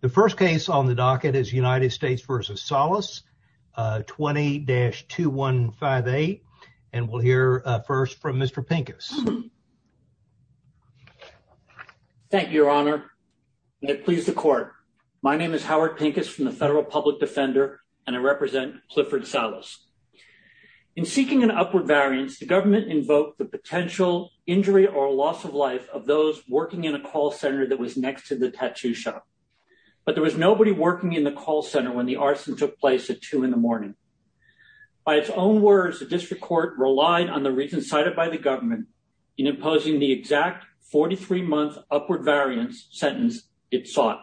The first case on the docket is United States v. Salas, 20-2158, and we'll hear first from Mr. Pincus. Thank you, your honor, and it pleases the court. My name is Howard Pincus from the Federal Public Defender, and I represent Clifford Salas. In seeking an upward variance, the government invoked the potential injury or loss of life of those working in a call center that was next to the tattoo shop, but there was nobody working in the call center when the arson took place at two in the morning. By its own words, the district court relied on the reasons cited by the government in imposing the exact 43-month upward variance sentence it sought.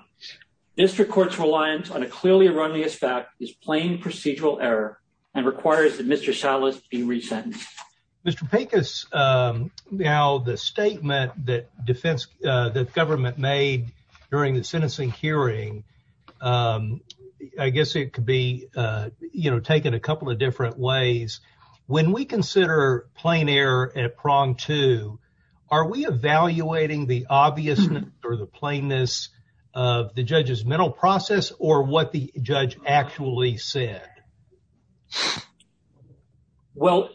District court's reliance on a clearly erroneous fact is plain procedural error and requires that Mr. Salas be resentenced. Mr. Pincus, now the statement that defense, that government made during the sentencing hearing, I guess it could be, you know, taken a couple of different ways. When we consider plain error at prong two, are we evaluating the obvious or the plainness of the judge's mental process or what the judge actually said? Well,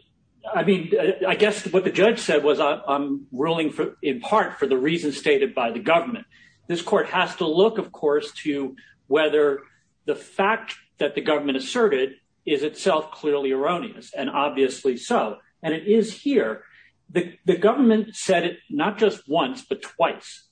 I mean, I guess what the judge said was I'm ruling in part for the reasons stated by the government. This court has to look, of course, to whether the fact that the government asserted is itself clearly erroneous, and obviously so, and it is here. The government said it not just once but twice.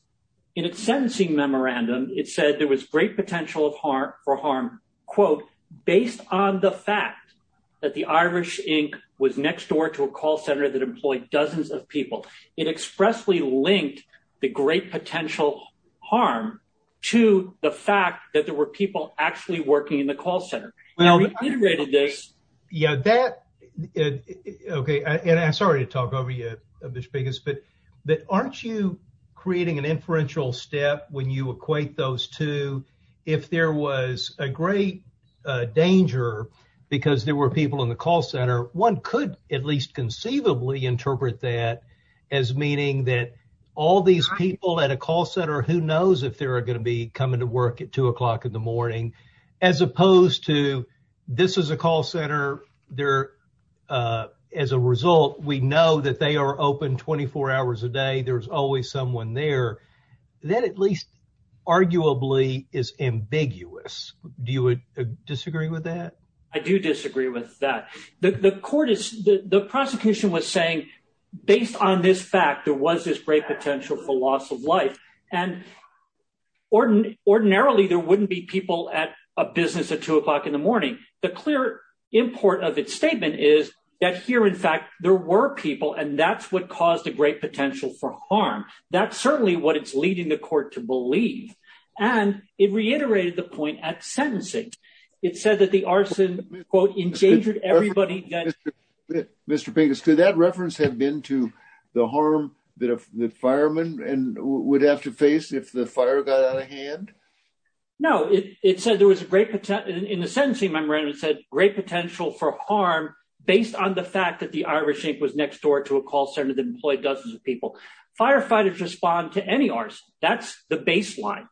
In its sentencing memorandum, it said there was great potential for harm, quote, based on the fact that the Irish Inc. was next door to a call center that employed dozens of people. It expressly linked the great potential harm to the fact that there were people actually working in the call center. Now, reiterated this. Yeah, that, okay, and I'm sorry to talk over you, Mr. Pincus, but aren't you creating an inferential step when you equate those two? If there was a great danger because there were people in the call center, one could at least conceivably interpret that as meaning that all these people at a call center, who knows if they are going to be coming to work at two o'clock in the morning, as opposed to this is a call center, there, as a result, we know that they are open 24 hours a day. There's always someone there. That at least arguably is ambiguous. Do you disagree with that? I do disagree with that. The court is, the prosecution was saying, based on this fact, there was this great potential for loss of life. And ordinarily, there wouldn't be people at a business at two o'clock in the morning. The clear import of its statement is that here, in fact, there were people and that's what caused great potential for harm. That's certainly what it's leading the court to believe. And it reiterated the point at sentencing. It said that the arson, quote, endangered everybody. Mr. Pincus, could that reference have been to the harm that a fireman would have to face if the fire got out of hand? No, it said there was a great potential in the sentencing memorandum, it said great potential for harm based on the fact that the Irish Inc. was next door to a people. Firefighters respond to any arson. That's the baseline.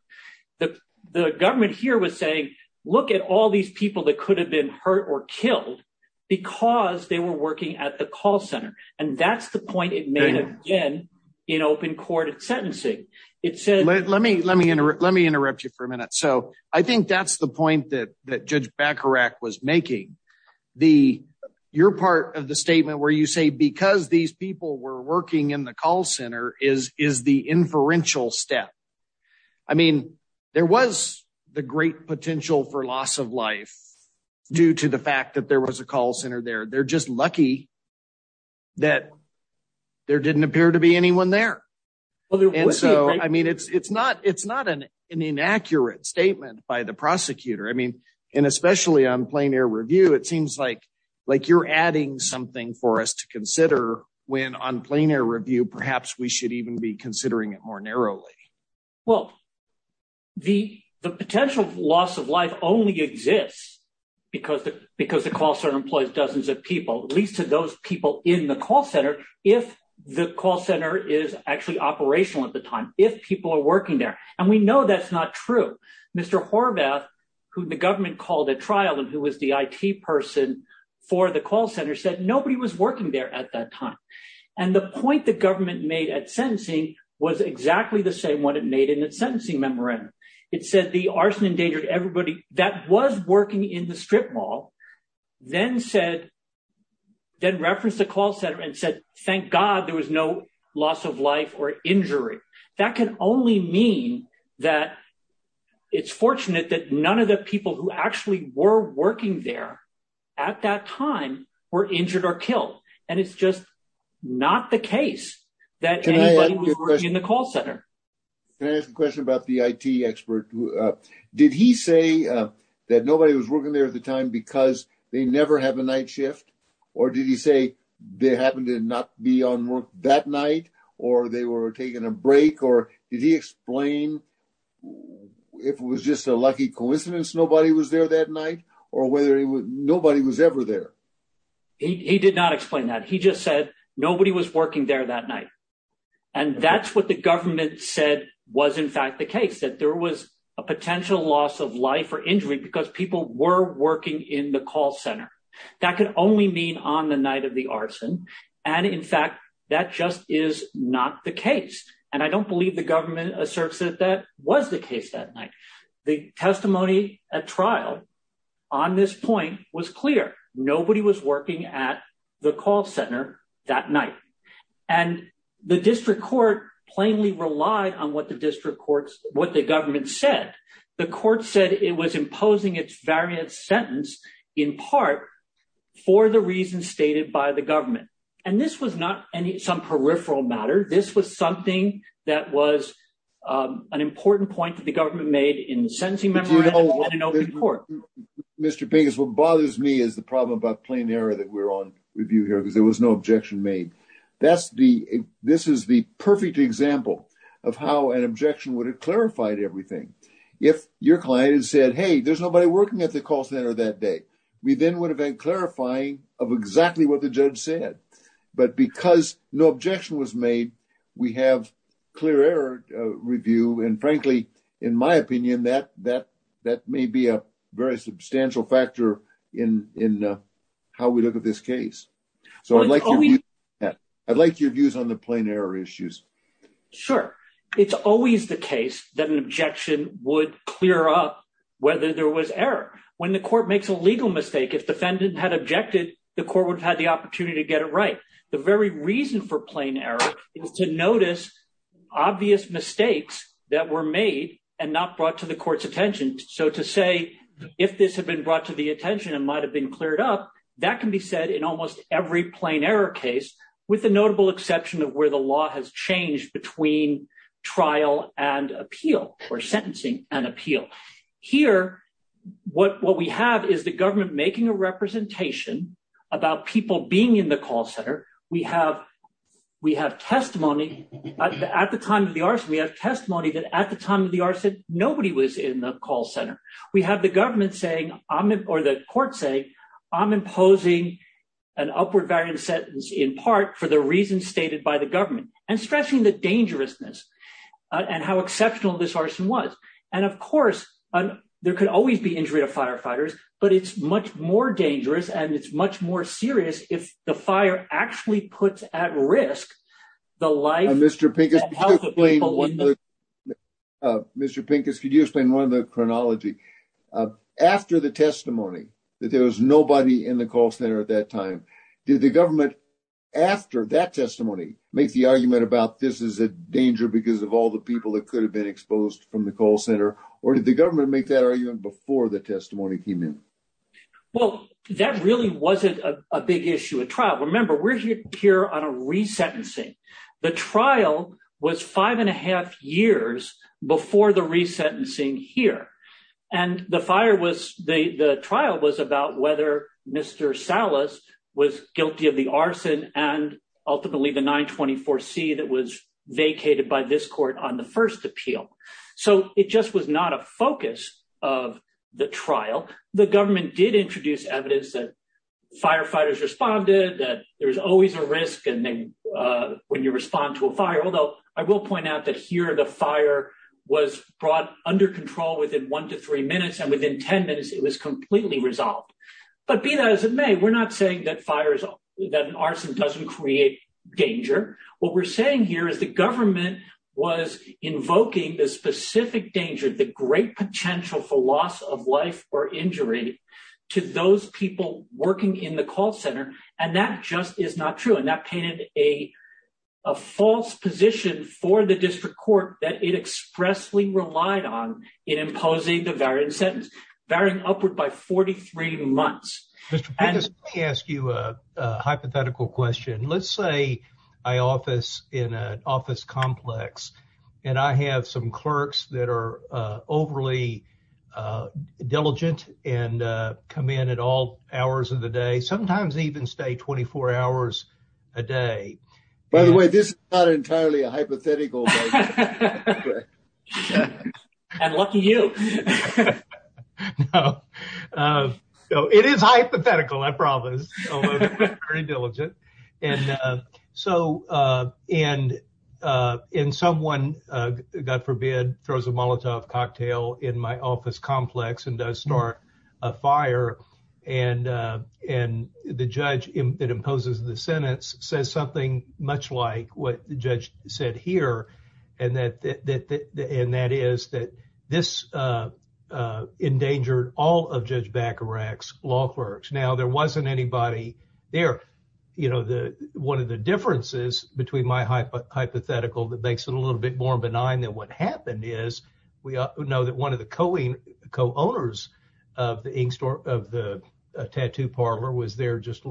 The government here was saying, look at all these people that could have been hurt or killed because they were working at the call center. And that's the point it made again, in open court at sentencing. It said, let me let me let me interrupt you for a minute. So I think that's the point that that Judge Bacharach was making. The you're part of the statement where you say because these people were working in the call center is is the inferential step. I mean, there was the great potential for loss of life due to the fact that there was a call center there. They're just lucky that there didn't appear to be anyone there. And so I mean, it's it's not it's not an inaccurate statement by the prosecutor. I mean, and especially on plein air review, it seems like, like you're adding something for us to consider when on plein air review, perhaps we should even be considering it more narrowly. Well, the the potential loss of life only exists, because because the call center employs dozens of people, at least to those people in the call center, if the call center is actually operational at the time, if people are working there, and we know that's not true. Mr. Horvath, who the government called a trial and who was the IT person for the call center said nobody was working there at that time. And the point the government made at sentencing was exactly the same one it made in its sentencing memorandum. It said the arson endangered everybody that was working in the strip mall, then said, then referenced the call center and said, thank God, there was no loss of life or injury. That can only mean that it's fortunate that none of the people who actually were working there at that time were injured or killed. And it's just not the case that in the call center. Can I ask a question about the IT expert? Did he say that nobody was working there at the time because they never have a night shift? Or did he say they happened to not be on work that night, or they were taking a break? Or did he explain if it was just a lucky coincidence, nobody was there that night, or whether nobody was ever there? He did not explain that. He just said nobody was working there that night. And that's what the government said was, in fact, the case that there was a potential loss of life because people were working in the call center. That could only mean on the night of the arson. And in fact, that just is not the case. And I don't believe the government asserts that that was the case that night. The testimony at trial on this point was clear. Nobody was working at the call center that night. And the district court plainly relied on what the district courts, what the government said. The court said it was imposing its variant sentence in part for the reasons stated by the government. And this was not some peripheral matter. This was something that was an important point that the government made in the sentencing memorandum and in open court. Mr. Pinkes, what bothers me is the problem about plain error that we're on review here, because there was no objection made. This is the perfect example of how an objection would clarify everything. If your client had said, hey, there's nobody working at the call center that day, we then would have been clarifying of exactly what the judge said. But because no objection was made, we have clear error review. And frankly, in my opinion, that may be a very substantial factor in how we look at this case. So I'd like your views on the plain error issues. Sure. It's always the case that an objection would clear up whether there was error. When the court makes a legal mistake, if defendant had objected, the court would have had the opportunity to get it right. The very reason for plain error is to notice obvious mistakes that were made and not brought to the court's attention. So to say, if this had been brought to the attention and might have been cleared up, that can be said in almost every plain error case, with the notable exception of where the law has changed between trial and appeal or sentencing and appeal. Here, what we have is the government making a representation about people being in the call center. We have testimony at the time of the arson. We have testimony that at the time of the arson, nobody was in the call center. We have the government saying, or the court saying, I'm stressing the dangerousness and how exceptional this arson was. And of course, there could always be injury to firefighters, but it's much more dangerous and it's much more serious if the fire actually puts at risk the life and health of people. Mr. Pincus, could you explain one of the chronology? After the testimony that there was nobody in the call center at that time, did the government, after that testimony, make the argument about this is a danger because of all the people that could have been exposed from the call center? Or did the government make that argument before the testimony came in? Well, that really wasn't a big issue at trial. Remember, we're here on a resentencing. The trial was five and a half years before the resentencing here. And the trial was about whether Mr. Salas was guilty of the arson and ultimately the 924C that was vacated by this court on the first appeal. So it just was not a focus of the trial. The government did introduce evidence that firefighters responded, that there's always a risk when you within 10 minutes, it was completely resolved. But be that as it may, we're not saying that arson doesn't create danger. What we're saying here is the government was invoking the specific danger, the great potential for loss of life or injury to those people working in the call center. And that just is not true. And that painted a false position for the district court that it expressly relied on in imposing the variant sentence, varying upward by 43 months. Mr. Prentice, let me ask you a hypothetical question. Let's say I office in an office complex and I have some clerks that are overly diligent and come in at all hours of the day, sometimes even stay 24 hours a day. By the way, this is not entirely a hypothetical. And lucky you. It is hypothetical, I promise. Very diligent. And so, and in someone, God forbid, throws a Molotov cocktail in my office complex and does start a fire. And the judge that imposes the sentence says something much like what the judge said here. And that is that this endangered all of Judge Bacarach's law clerks. Now, there wasn't anybody there. One of the differences between my hypothetical that makes it a little bit more benign than what happened is we know that one of the co-owners of the ink store, of the tattoo parlor was there just a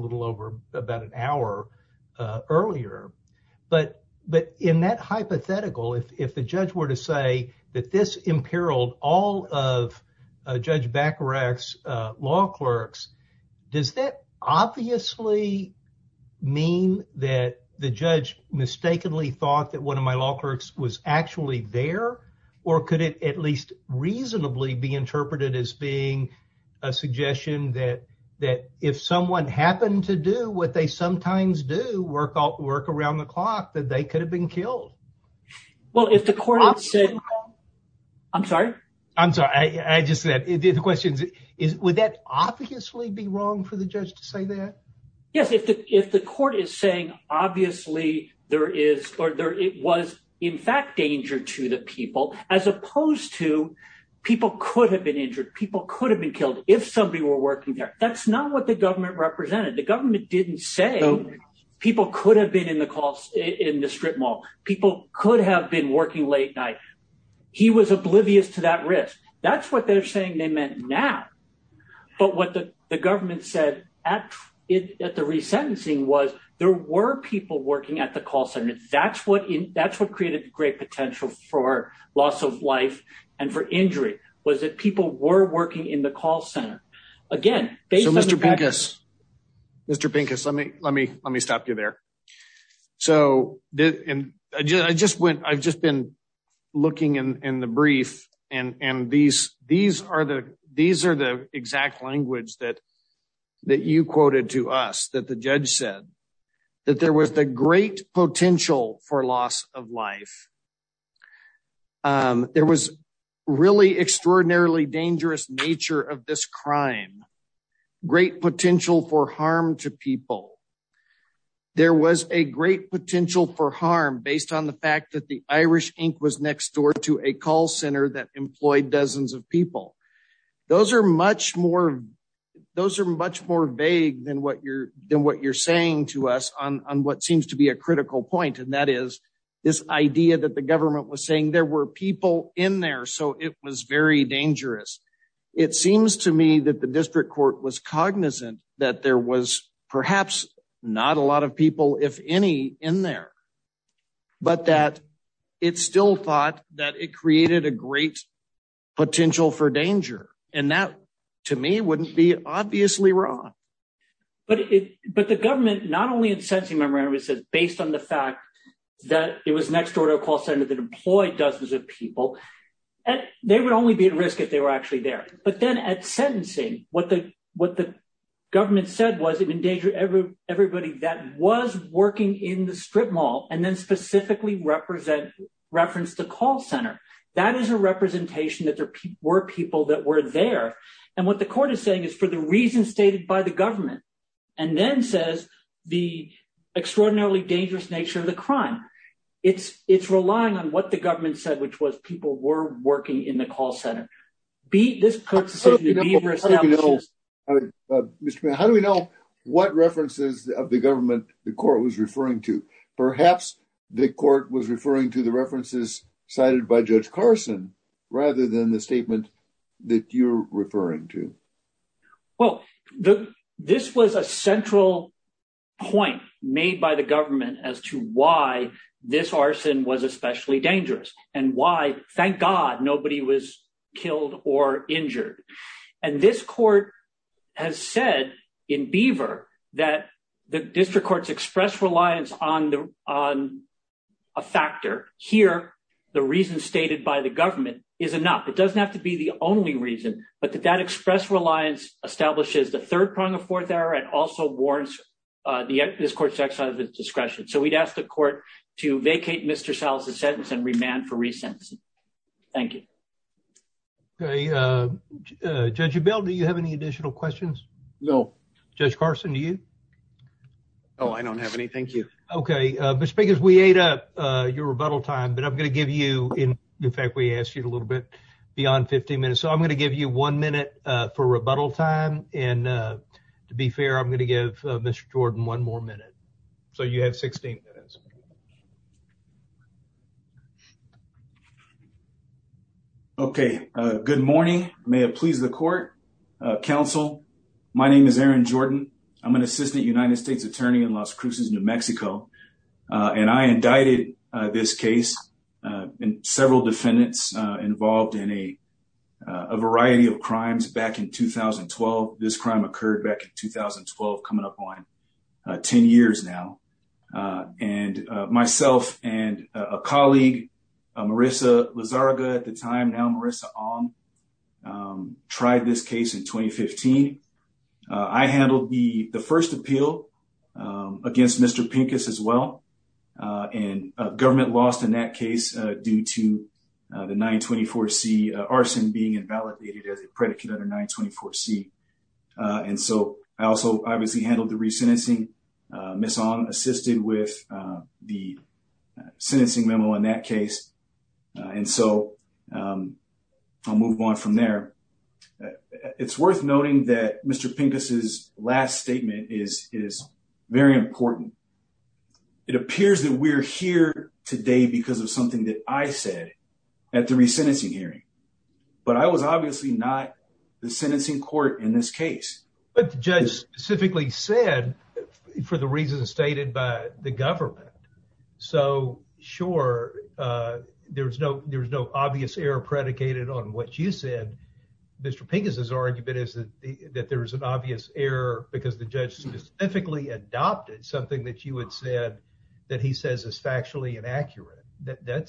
about an hour earlier. But in that hypothetical, if the judge were to say that this imperiled all of Judge Bacarach's law clerks, does that obviously mean that the judge mistakenly thought that one of my law clerks was actually there? Or could it at least reasonably be interpreted as being a suggestion that if someone happened to do what they sometimes do, work around the clock, that they could have been killed? I'm sorry? I'm sorry. I just said the question is, would that obviously be wrong for the judge to say that? Yes. If the court is saying, obviously, there is or there was in fact danger to the people, as opposed to people could have been if somebody were working there. That's not what the government represented. The government didn't say people could have been in the call in the strip mall. People could have been working late night. He was oblivious to that risk. That's what they're saying they meant now. But what the government said at the resentencing was there were people working at the call center. That's what created great potential for loss of life and for injury was that people were working in the call center. Mr. Pincus, let me stop you there. I've just been looking in the brief. These are the exact language that you quoted to us that the judge said, that there was the great potential for loss of life. There was really extraordinarily dangerous nature of this crime. Great potential for harm to people. There was a great potential for harm based on the fact that the Irish Inc. was next door to a call center that employed dozens of people. Those are much more vague than what you're saying to us on what seems to be a critical point. That is, this idea that the government was saying there were people in there, so it was very dangerous. It seems to me that the district court was cognizant that there was perhaps not a lot of people, if any, in there, but that it still thought that it created a great potential for danger. That, to me, wouldn't be obviously wrong. But the government, not only in sentencing memorandum, it says based on the fact that it was next door to a call center that employed dozens of people, they would only be at risk if they were actually there. But then at sentencing, what the government said was it endangered everybody that was working in the strip mall and then specifically referenced the call center. That is a representation that there were people that were there. What the court is saying is for the reasons stated by the government and then says the extraordinarily dangerous nature of the crime. It's relying on what the government said, which was people were working in the call center. How do we know what references of the government the court was referring to? Perhaps the court was referring to the references cited by Judge Carson rather than the statement that you're referring to. Well, this was a central point made by the government as to why this arson was especially dangerous and why, thank God, nobody was killed or injured. And this court has said in Beaver that the district courts expressed reliance on a factor. Here, the reason stated by the government is enough. It doesn't have to be the only reason, but that express reliance establishes the third prong of fourth error and also warrants this court's exercise of its discretion. So we'd ask the court to vacate Mr. Sal's sentence and remand for re-sentencing. Thank you. Okay, Judge Abell, do you have any additional questions? No. Judge but I'm going to give you, in fact, we asked you a little bit beyond 15 minutes. So I'm going to give you one minute for rebuttal time. And to be fair, I'm going to give Mr. Jordan one more minute. So you have 16 minutes. Okay. Good morning. May it please the court, counsel. My name is Aaron Jordan. I'm an assistant United States attorney in Las Cruces, New Mexico. And I indicted this case and several defendants involved in a variety of crimes back in 2012. This crime occurred back in 2012, coming up on 10 years now. And myself and a colleague, Marissa Lazarga at the time, now Marissa Ong, tried this case in 2015. I handled the first appeal against Mr. Pincus as well. And government lost in that case due to the 924C arson being invalidated as a predicate under 924C. And so I also obviously handled the re-sentencing. Miss Ong assisted with the sentencing memo in that case. And so I'll move on from there. It's worth noting that Mr. Pincus' last statement is very important. It appears that we're here today because of something that I said at the re-sentencing hearing. But I was obviously not the sentencing court in this case. But the judge specifically said for the reasons stated by the Mr. Pincus' argument is that there is an obvious error because the judge specifically adopted something that you had said that he says is factually inaccurate. That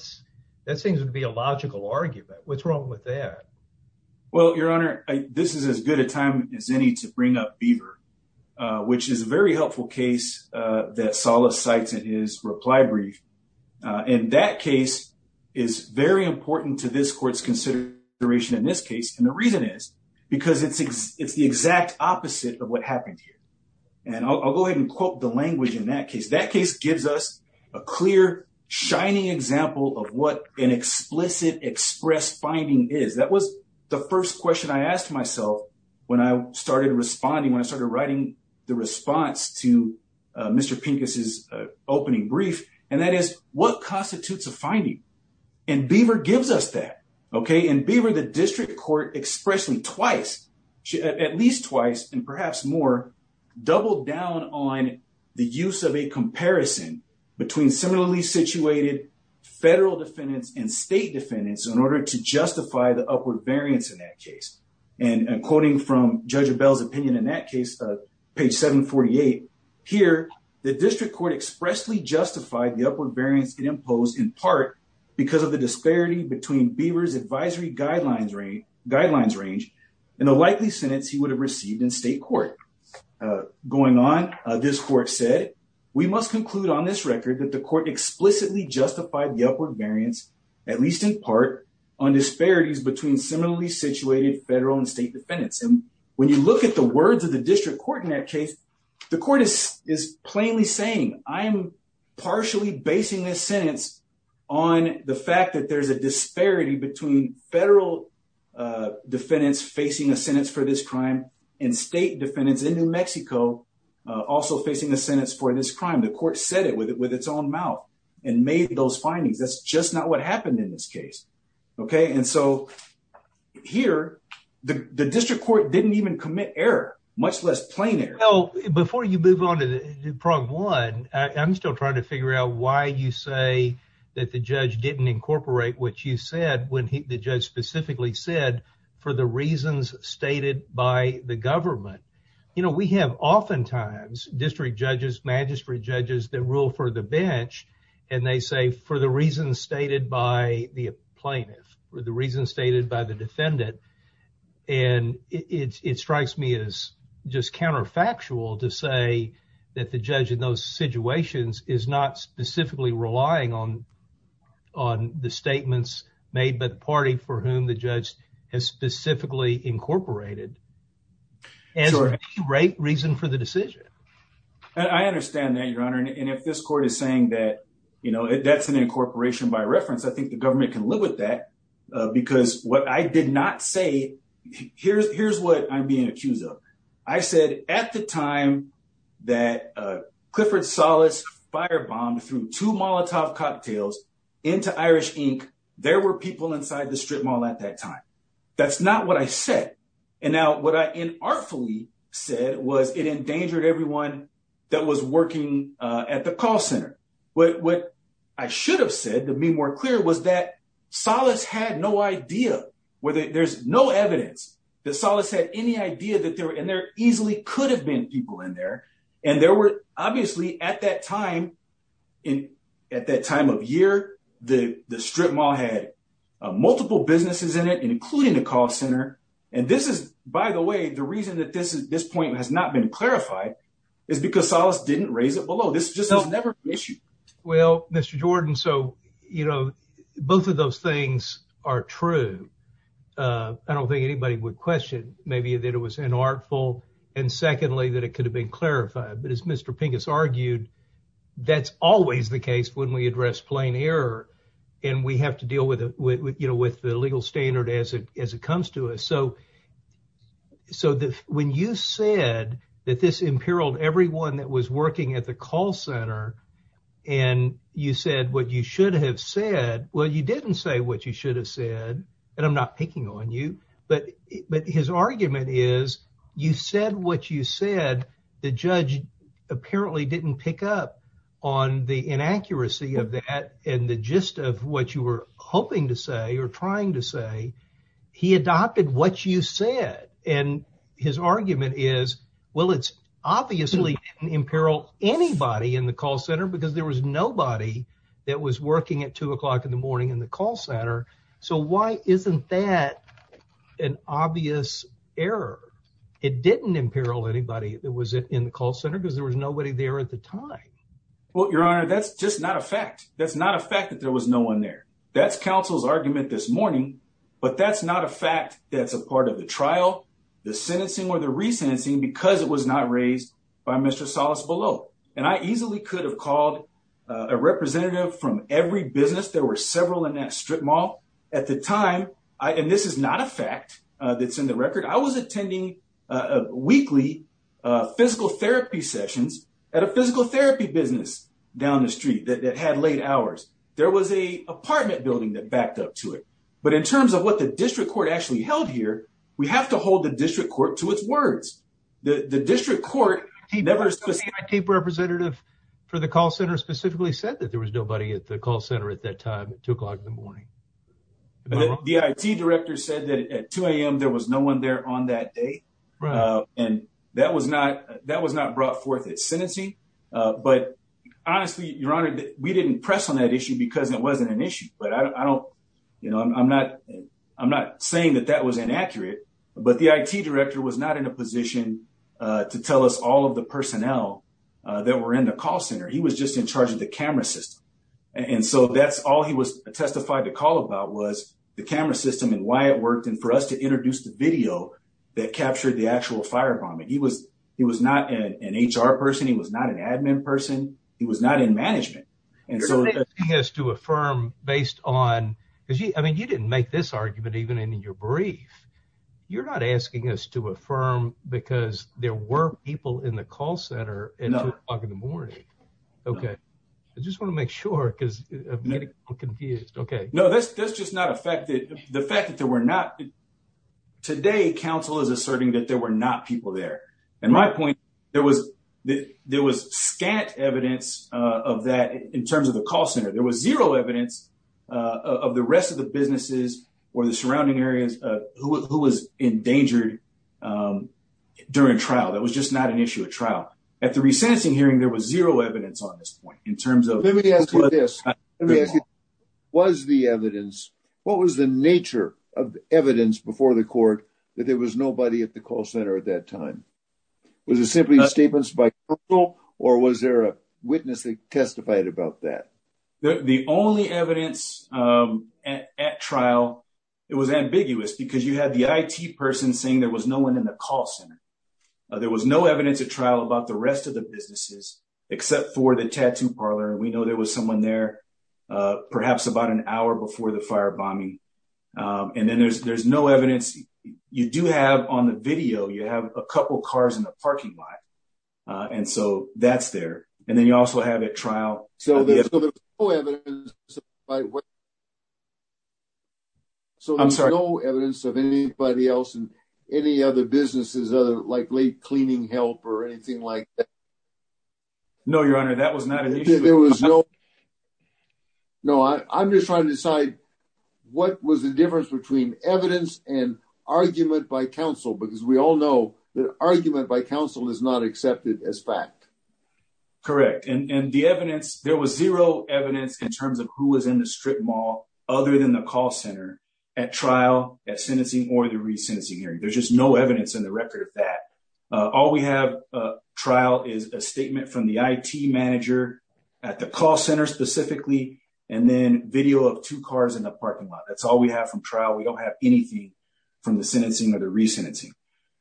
seems to be a logical argument. What's wrong with that? Well, Your Honor, this is as good a time as any to bring up Beaver, which is a very helpful case that Salas cites in his reply brief. And that case is very because it's the exact opposite of what happened here. And I'll go ahead and quote the language in that case. That case gives us a clear, shining example of what an explicit express finding is. That was the first question I asked myself when I started responding, when I started writing the response to Mr. Pincus' opening brief. And that is what constitutes a finding? And Beaver gives us that. And Beaver, the district court expressly twice, at least twice, and perhaps more doubled down on the use of a comparison between similarly situated federal defendants and state defendants in order to justify the upward variance in that case. And quoting from Judge Abell's opinion in that case, page 748, here, the district court expressly justified the upward variance it imposed in part because of the disparity between Beaver's advisory guidelines range and the likely sentence he would have received in state court. Going on, this court said, we must conclude on this record that the court explicitly justified the upward variance, at least in part, on disparities between similarly situated federal and state defendants. And when you look at the words of the district court in that case, the court is plainly saying, I'm partially basing this sentence on the fact that there's a disparity between federal defendants facing a sentence for this crime and state defendants in New Mexico also facing a sentence for this crime. The court said it with its own mouth and made those findings. That's just not what happened in this case. Okay? And so here, the district court didn't even commit error, much less plain error. Well, before you move on to Prog 1, I'm still trying to figure out why you say that the judge didn't incorporate what you said when the judge specifically said, for the reasons stated by the government. You know, we have oftentimes district judges, magistrate judges that rule for the bench, and they say, for the reasons stated by the plaintiff, for the reasons stated by the defendant. And it strikes me as just counterfactual to say that the judge in those situations is not specifically relying on the statements made by the party for whom the judge has specifically incorporated as a reason for the decision. I understand that, Your Honor. And if this court is saying that, you know, that's an incorporation by reference, I think the government can live with that, because what I did not say, here's what I'm being accused of. I said at the time that Clifford Salas firebombed through two Molotov cocktails into Irish Inc., there were people inside the strip mall at that time. That's not what I said. And now what I inartfully said was it endangered everyone that was working at the center. What I should have said, to be more clear, was that Salas had no idea, there's no evidence that Salas had any idea, and there easily could have been people in there. And there were, obviously, at that time of year, the strip mall had multiple businesses in it, including the call center. And this is, by the way, the reason that this point has not been clarified is because didn't raise it below. This just has never been an issue. Well, Mr. Jordan, so, you know, both of those things are true. I don't think anybody would question, maybe, that it was inartful, and secondly, that it could have been clarified. But as Mr. Pincus argued, that's always the case when we address plain error, and we have to deal with it, you know, with the legal standard as it was working at the call center. And you said what you should have said. Well, you didn't say what you should have said, and I'm not picking on you, but his argument is, you said what you said, the judge apparently didn't pick up on the inaccuracy of that, and the gist of what you were hoping to say, or trying to say. He adopted what you said, and his argument is, well, it's anybody in the call center because there was nobody that was working at two o'clock in the morning in the call center, so why isn't that an obvious error? It didn't imperil anybody that was in the call center because there was nobody there at the time. Well, your honor, that's just not a fact. That's not a fact that there was no one there. That's counsel's argument this morning, but that's not a fact that's a part of the trial, the sentencing, or the resentencing because it was not raised by Mr. Salas below, and I easily could have called a representative from every business. There were several in that strip mall at the time, and this is not a fact that's in the record. I was attending weekly physical therapy sessions at a physical therapy business down the street that had late hours. There was a apartment building that backed up to it, but in terms of what the district court, the district representative for the call center specifically said that there was nobody at the call center at that time at two o'clock in the morning. The I.T. director said that at 2 a.m. there was no one there on that day, and that was not brought forth at sentencing, but honestly, your honor, we didn't press on that issue because it wasn't an issue, but I'm not saying that that was inaccurate, but the I.T. director was not in a position to tell us all of the personnel that were in the call center. He was just in charge of the camera system, and so that's all he was testified to call about was the camera system and why it worked and for us to introduce the video that captured the actual firebombing. He was not an H.R. person. He was not an admin person. He was not in management. You're not asking us to affirm based on, because I mean you didn't make this argument even in your brief, you're not asking us to affirm because there were people in the call center at 2 o'clock in the morning. Okay. I just want to make sure because I'm getting confused. Okay. No, that's just not a fact. The fact that there were not, today counsel is asserting that there were not people there. And my point, there was scant evidence of that in terms of the call center. There was zero evidence of the rest of the businesses or the surrounding areas who was endangered during trial. That was just not an issue at trial. At the resentencing hearing, there was zero evidence on this point in terms of. Let me ask you this. Let me ask you, was the evidence, what was the nature of the evidence before the court that there was nobody at the call center at that time? Was it simply statements by colonel or was there a witness that testified about that? The only evidence at trial, it was ambiguous because you had the IT person saying there was no one in the call center. There was no evidence at trial about the rest of the businesses except for the tattoo parlor. And we know there was someone there perhaps about an hour before the fire bombing. And then there's no evidence. You do have on the video, you have a couple of trials. So there's no evidence of anybody else and any other businesses, like late cleaning help or anything like that. No, your honor, that was not an issue. No, I'm just trying to decide what was the difference between evidence and argument by counsel, because we all know that argument by counsel is not accepted as fact. Correct. And the evidence, there was zero evidence in terms of who was in the strip mall other than the call center at trial, at sentencing, or the re-sentencing hearing. There's just no evidence in the record of that. All we have trial is a statement from the IT manager at the call center specifically, and then video of two cars in the parking lot. That's all we have from trial. We don't have anything from the sentencing or the re-sentencing.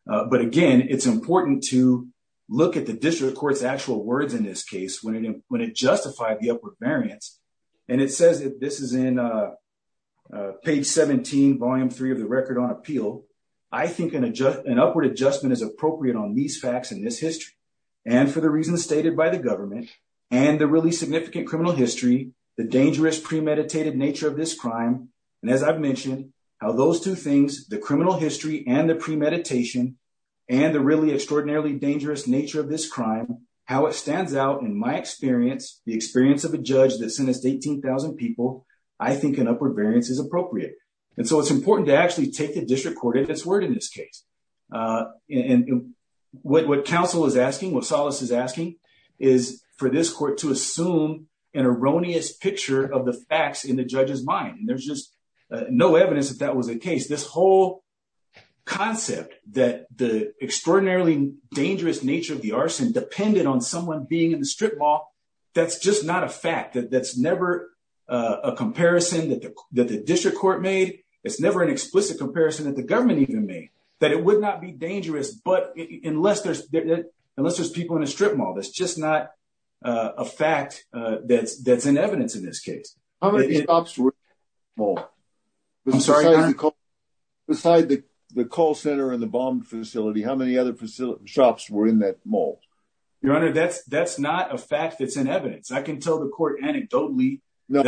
But again, it's important to look at the district court's actual words in this case when it justified the upward variance. And it says that this is in page 17, volume three of the record on appeal. I think an upward adjustment is appropriate on these facts in this history. And for the reasons stated by the government and the really significant criminal history, the dangerous premeditated nature of this crime. And as I've mentioned, how those two the criminal history and the premeditation and the really extraordinarily dangerous nature of this crime, how it stands out in my experience, the experience of a judge that sentenced 18,000 people, I think an upward variance is appropriate. And so it's important to actually take the district court at its word in this case. And what counsel is asking, what solace is asking, is for this court to assume an erroneous picture of the facts in the judge's mind. And there's just no evidence that that was the case. This whole concept that the extraordinarily dangerous nature of the arson depended on someone being in the strip mall, that's just not a fact. That's never a comparison that the district court made. It's never an explicit comparison that the government even made, that it would not be dangerous. But unless there's people in a strip mall, that's not a fact that's in evidence in this case. Besides the call center and the bomb facility, how many other shops were in that mall? Your Honor, that's not a fact that's in evidence. I can tell the court anecdotally. No,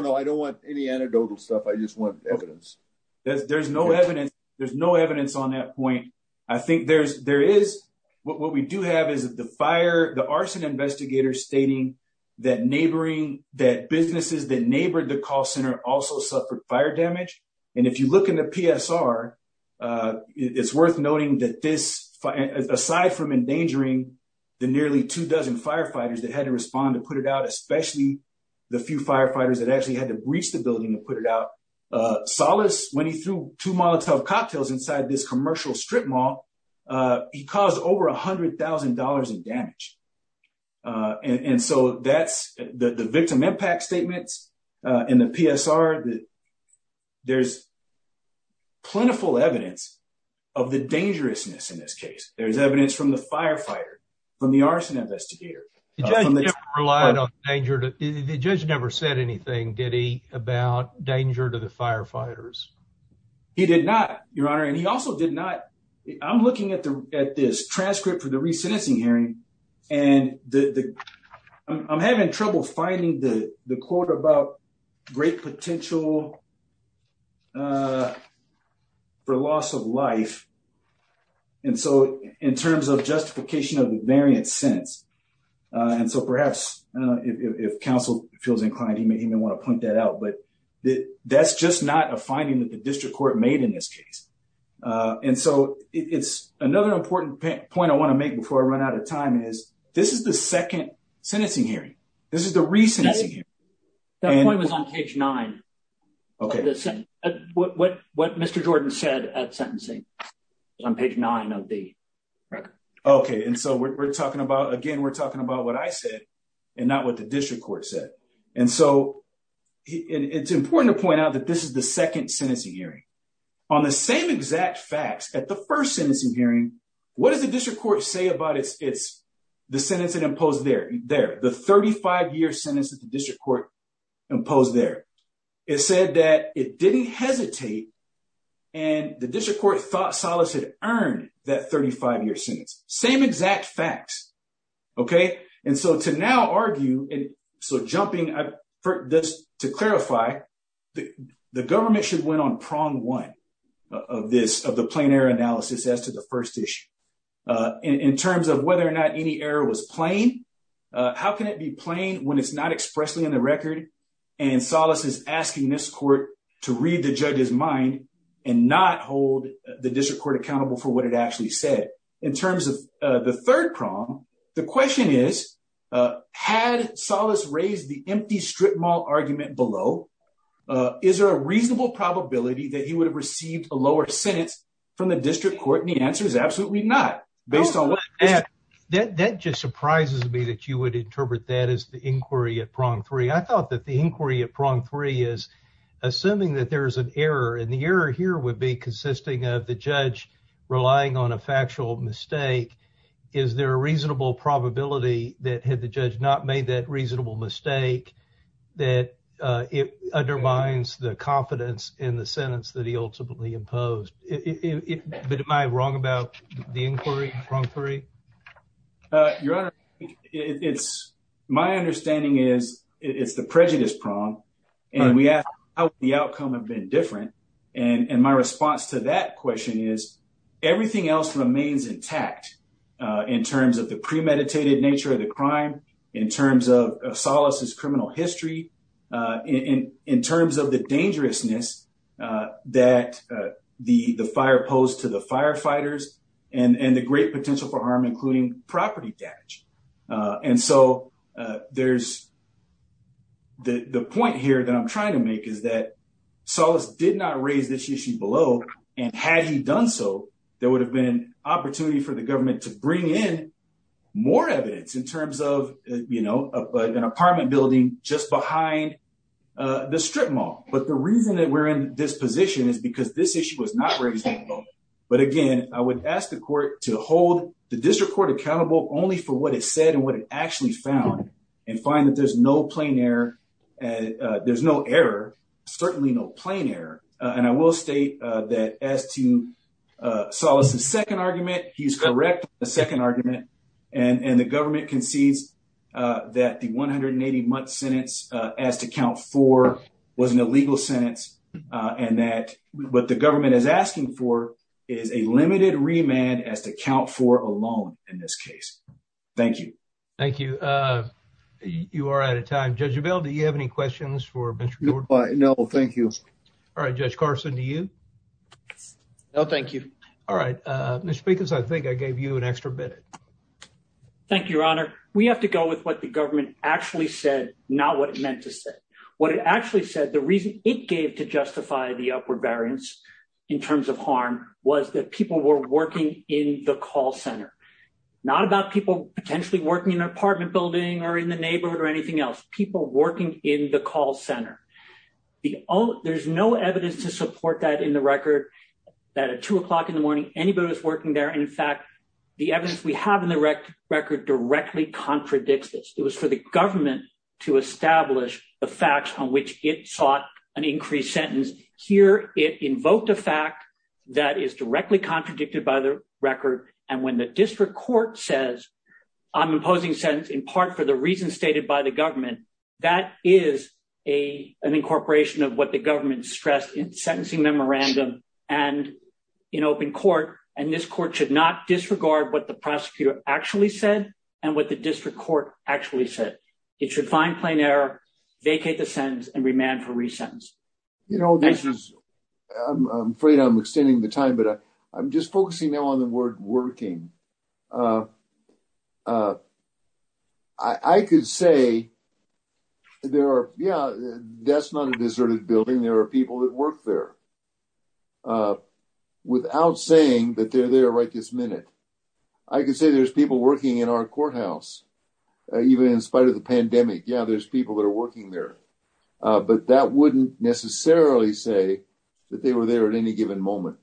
no, I don't want any anecdotal stuff. I just want evidence. There's no evidence. There's no evidence on that point. What we do have is the arson investigators stating that businesses that neighbored the call center also suffered fire damage. And if you look in the PSR, it's worth noting that this, aside from endangering the nearly two dozen firefighters that had to respond to put it out, especially the few firefighters that actually had to breach the building to put it out, Salas, when he threw two molotov cocktails inside this commercial strip mall, he caused over $100,000 in damage. And so that's the victim impact statements in the PSR. There's plentiful evidence of the dangerousness in this case. There's evidence from the firefighter, from the arson investigator. The judge never said anything, did he, about danger to the firefighters? He did not, Your Honor, and he also did not... I'm looking at this transcript for the re-sentencing hearing, and I'm having trouble finding the quote about great potential for loss of life. And so, in terms of justification of the variant sentence, and so perhaps if counsel feels inclined, he may want to point that out, but that's just not a finding that the district court made in this case. And so, it's another important point I want to make before I run out of time is, this is the second sentencing hearing. This is the re-sentencing hearing. That point was on page nine, what Mr. Jordan said at sentencing, on page nine of the record. Okay. And so, again, we're talking about what I said and not what the district court said. And so, it's important to point out that this is the second sentencing hearing. On the same exact facts, at the first sentencing hearing, what does the district court say about the sentence that imposed there? The 35-year sentence that the district court imposed there. It said that it didn't hesitate, and the district court thought Solace had earned that 35-year sentence. Same exact facts. Okay. And so, to now argue, and so jumping, to clarify, the government should win on prong one of the plein air analysis as to the first issue. In terms of whether or not any error was plein, how can it be plein when it's not expressly on the record, and Solace is asking this court to read the judge's mind and not hold the district court accountable for what it actually said. In terms of the third prong, the question is, had Solace raised the empty strip mall argument below, is there a reasonable probability that he would have received a lower sentence from the district court, and the answer is absolutely not. That just surprises me that you would interpret that as the inquiry at prong three. I thought that the inquiry at prong three is assuming that there's an error, and the error here would be consisting of the judge relying on a factual mistake. Is there a reasonable probability that had the judge not made that reasonable mistake that it undermines the confidence in the sentence that he ultimately imposed? But am I wrong about the inquiry at prong three? Your Honor, my understanding is it's the prejudice prong, and we ask how would the outcome have been different, and my response to that question is everything else remains intact in terms of the premeditated nature of the crime, in terms of Solace's criminal history, in terms of the dangerousness that the fire posed to the firefighters, and the great potential for harm, including property damage. And so there's the point here that I'm trying to make is that Solace did not raise this issue below, and had he done so, there would have been an opportunity for the government to bring in more evidence in terms of, you know, an apartment building just behind the strip mall. But the reason that we're in this position is because this issue was not raised at all. But again, I would ask the court to hold the district court accountable only for what it said and what it actually found, and find that there's no plain error, there's no error, certainly no plain error. And I will state that as to Solace's second argument, he's correct on the second argument, and the government concedes that the 180-month sentence as to count four was an illegal sentence, and that what the government is asking for is a limited remand as to count four alone in this case. Thank you. Thank you. You are out of time. Judge Abell, do you have any questions for Mr. Gordon? No, thank you. All right, Judge Carson, do you? No, thank you. All right, Mr. Speakers, I think I gave you an extra minute. Thank you, Your Honor. We have to go with what the government actually said, not what it meant to say. What it actually said, the reason it gave to justify the upward variance in terms of harm was that people were working in the call center. Not about people potentially working in an apartment building or in the neighborhood or anything else, people working in the call center. There's no evidence to support that in the record, that at two o'clock in the morning, anybody was working there, and in fact, the evidence we have in the record directly contradicts this. It was for the government to establish the facts on which it sought an increased sentence. Here, it invoked a fact that is directly contradicted by the record, and when the district court says, I'm imposing sentence in part for the reasons stated by the record, that is an incorporation of what the government stressed in sentencing memorandum and in open court, and this court should not disregard what the prosecutor actually said and what the district court actually said. It should find plain error, vacate the sentence, and remand for re-sentence. I'm afraid I'm extending the time, but I'm just focusing now on the word working. I could say there are, yeah, that's not a deserted building. There are people that work there. Without saying that they're there right this minute, I could say there's people working in our courthouse, even in spite of the pandemic. Yeah, there's people that are working there, but that wouldn't necessarily say that they were there at any time.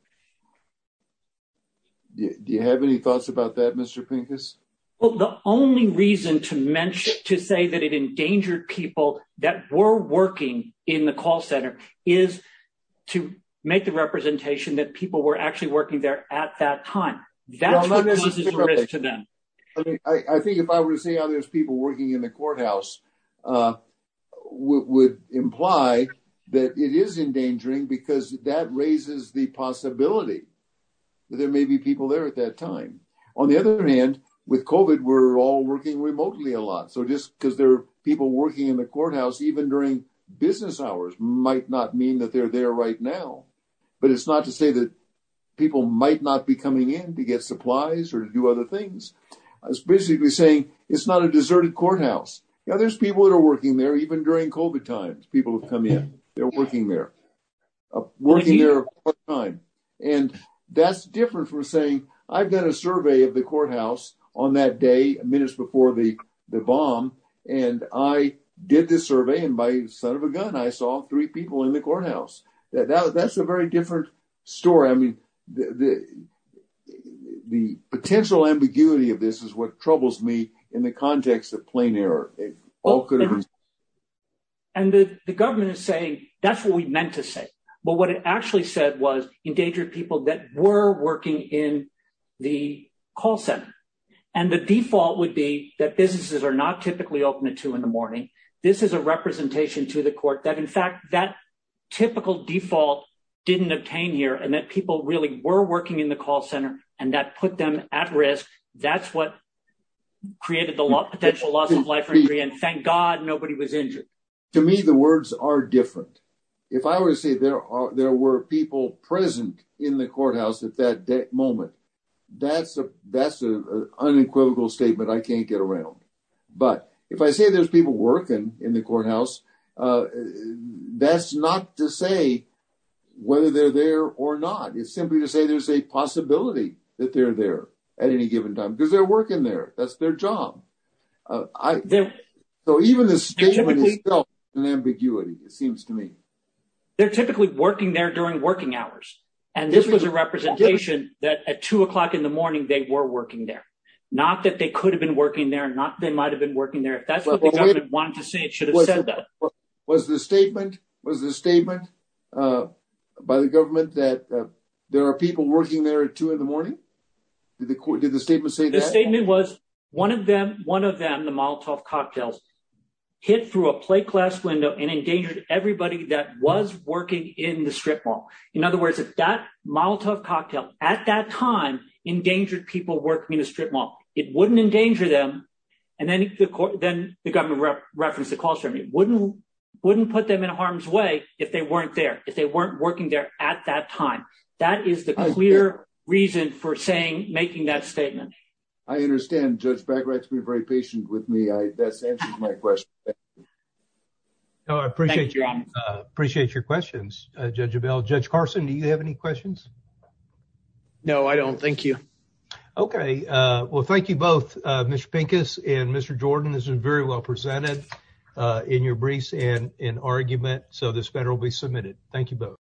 Do you have any thoughts about that, Mr. Pincus? Well, the only reason to mention, to say that it endangered people that were working in the call center is to make the representation that people were actually working there at that time. I think if I were to say how there's people working in the courthouse would imply that it is endangering because that raises the possibility that there may be people there at that time. On the other hand, with COVID, we're all working remotely a lot. So just because there are people working in the courthouse even during business hours might not mean that they're there right now. But it's not to say that people might not be coming in to get supplies or to do other things. It's basically saying it's not a deserted courthouse. Yeah, there's people that are working there even during COVID times, people come in, they're working there, working there all the time. And that's different from saying, I've done a survey of the courthouse on that day, minutes before the bomb, and I did this survey, and by the sound of a gun, I saw three people in the courthouse. That's a very different story. I mean, the potential ambiguity of this is what troubles me in the context of plain error. And the government is saying, that's what we meant to say. But what it actually said was, endanger people that were working in the call center. And the default would be that businesses are not typically open at two in the morning. This is a representation to the court that in fact, that typical default didn't obtain here and that people really were working in the call center, and that put them at risk. That's what created the potential loss of life and thank God nobody was injured. To me, the words are different. If I were to say there were people present in the courthouse at that moment, that's an unequivocal statement, I can't get around. But if I say there's people working in the courthouse, that's not to say whether they're there or not. It's simply to say there's a possibility that they're there at any given time, because they're working there. That's their job. So even this statement is still an ambiguity, it seems to me. They're typically working there during working hours. And this was a representation that at two o'clock in the morning, they were working there. Not that they could have been working there, not they might have been working there. If that's what the government wanted to say, it should have said that. Was the statement by the government that there are people working there at two in the morning? Did the statement say that? The statement was one of them, the Molotov cocktails, hit through a plate glass window and endangered everybody that was working in the strip mall. In other words, if that Molotov cocktail at that time endangered people working in the strip mall, it wouldn't endanger them. And then the government referenced the call ceremony. Wouldn't put them in harm's way if they weren't there, if they weren't working there at that time. That is the clear reason for saying, making that statement. I understand Judge Bagwright to be very patient with me. That answers my question. I appreciate your questions, Judge Well, thank you both, Mr Pincus and Mr Jordan. This is very well presented in your briefs and in argument. So this better will be submitted. Thank you both.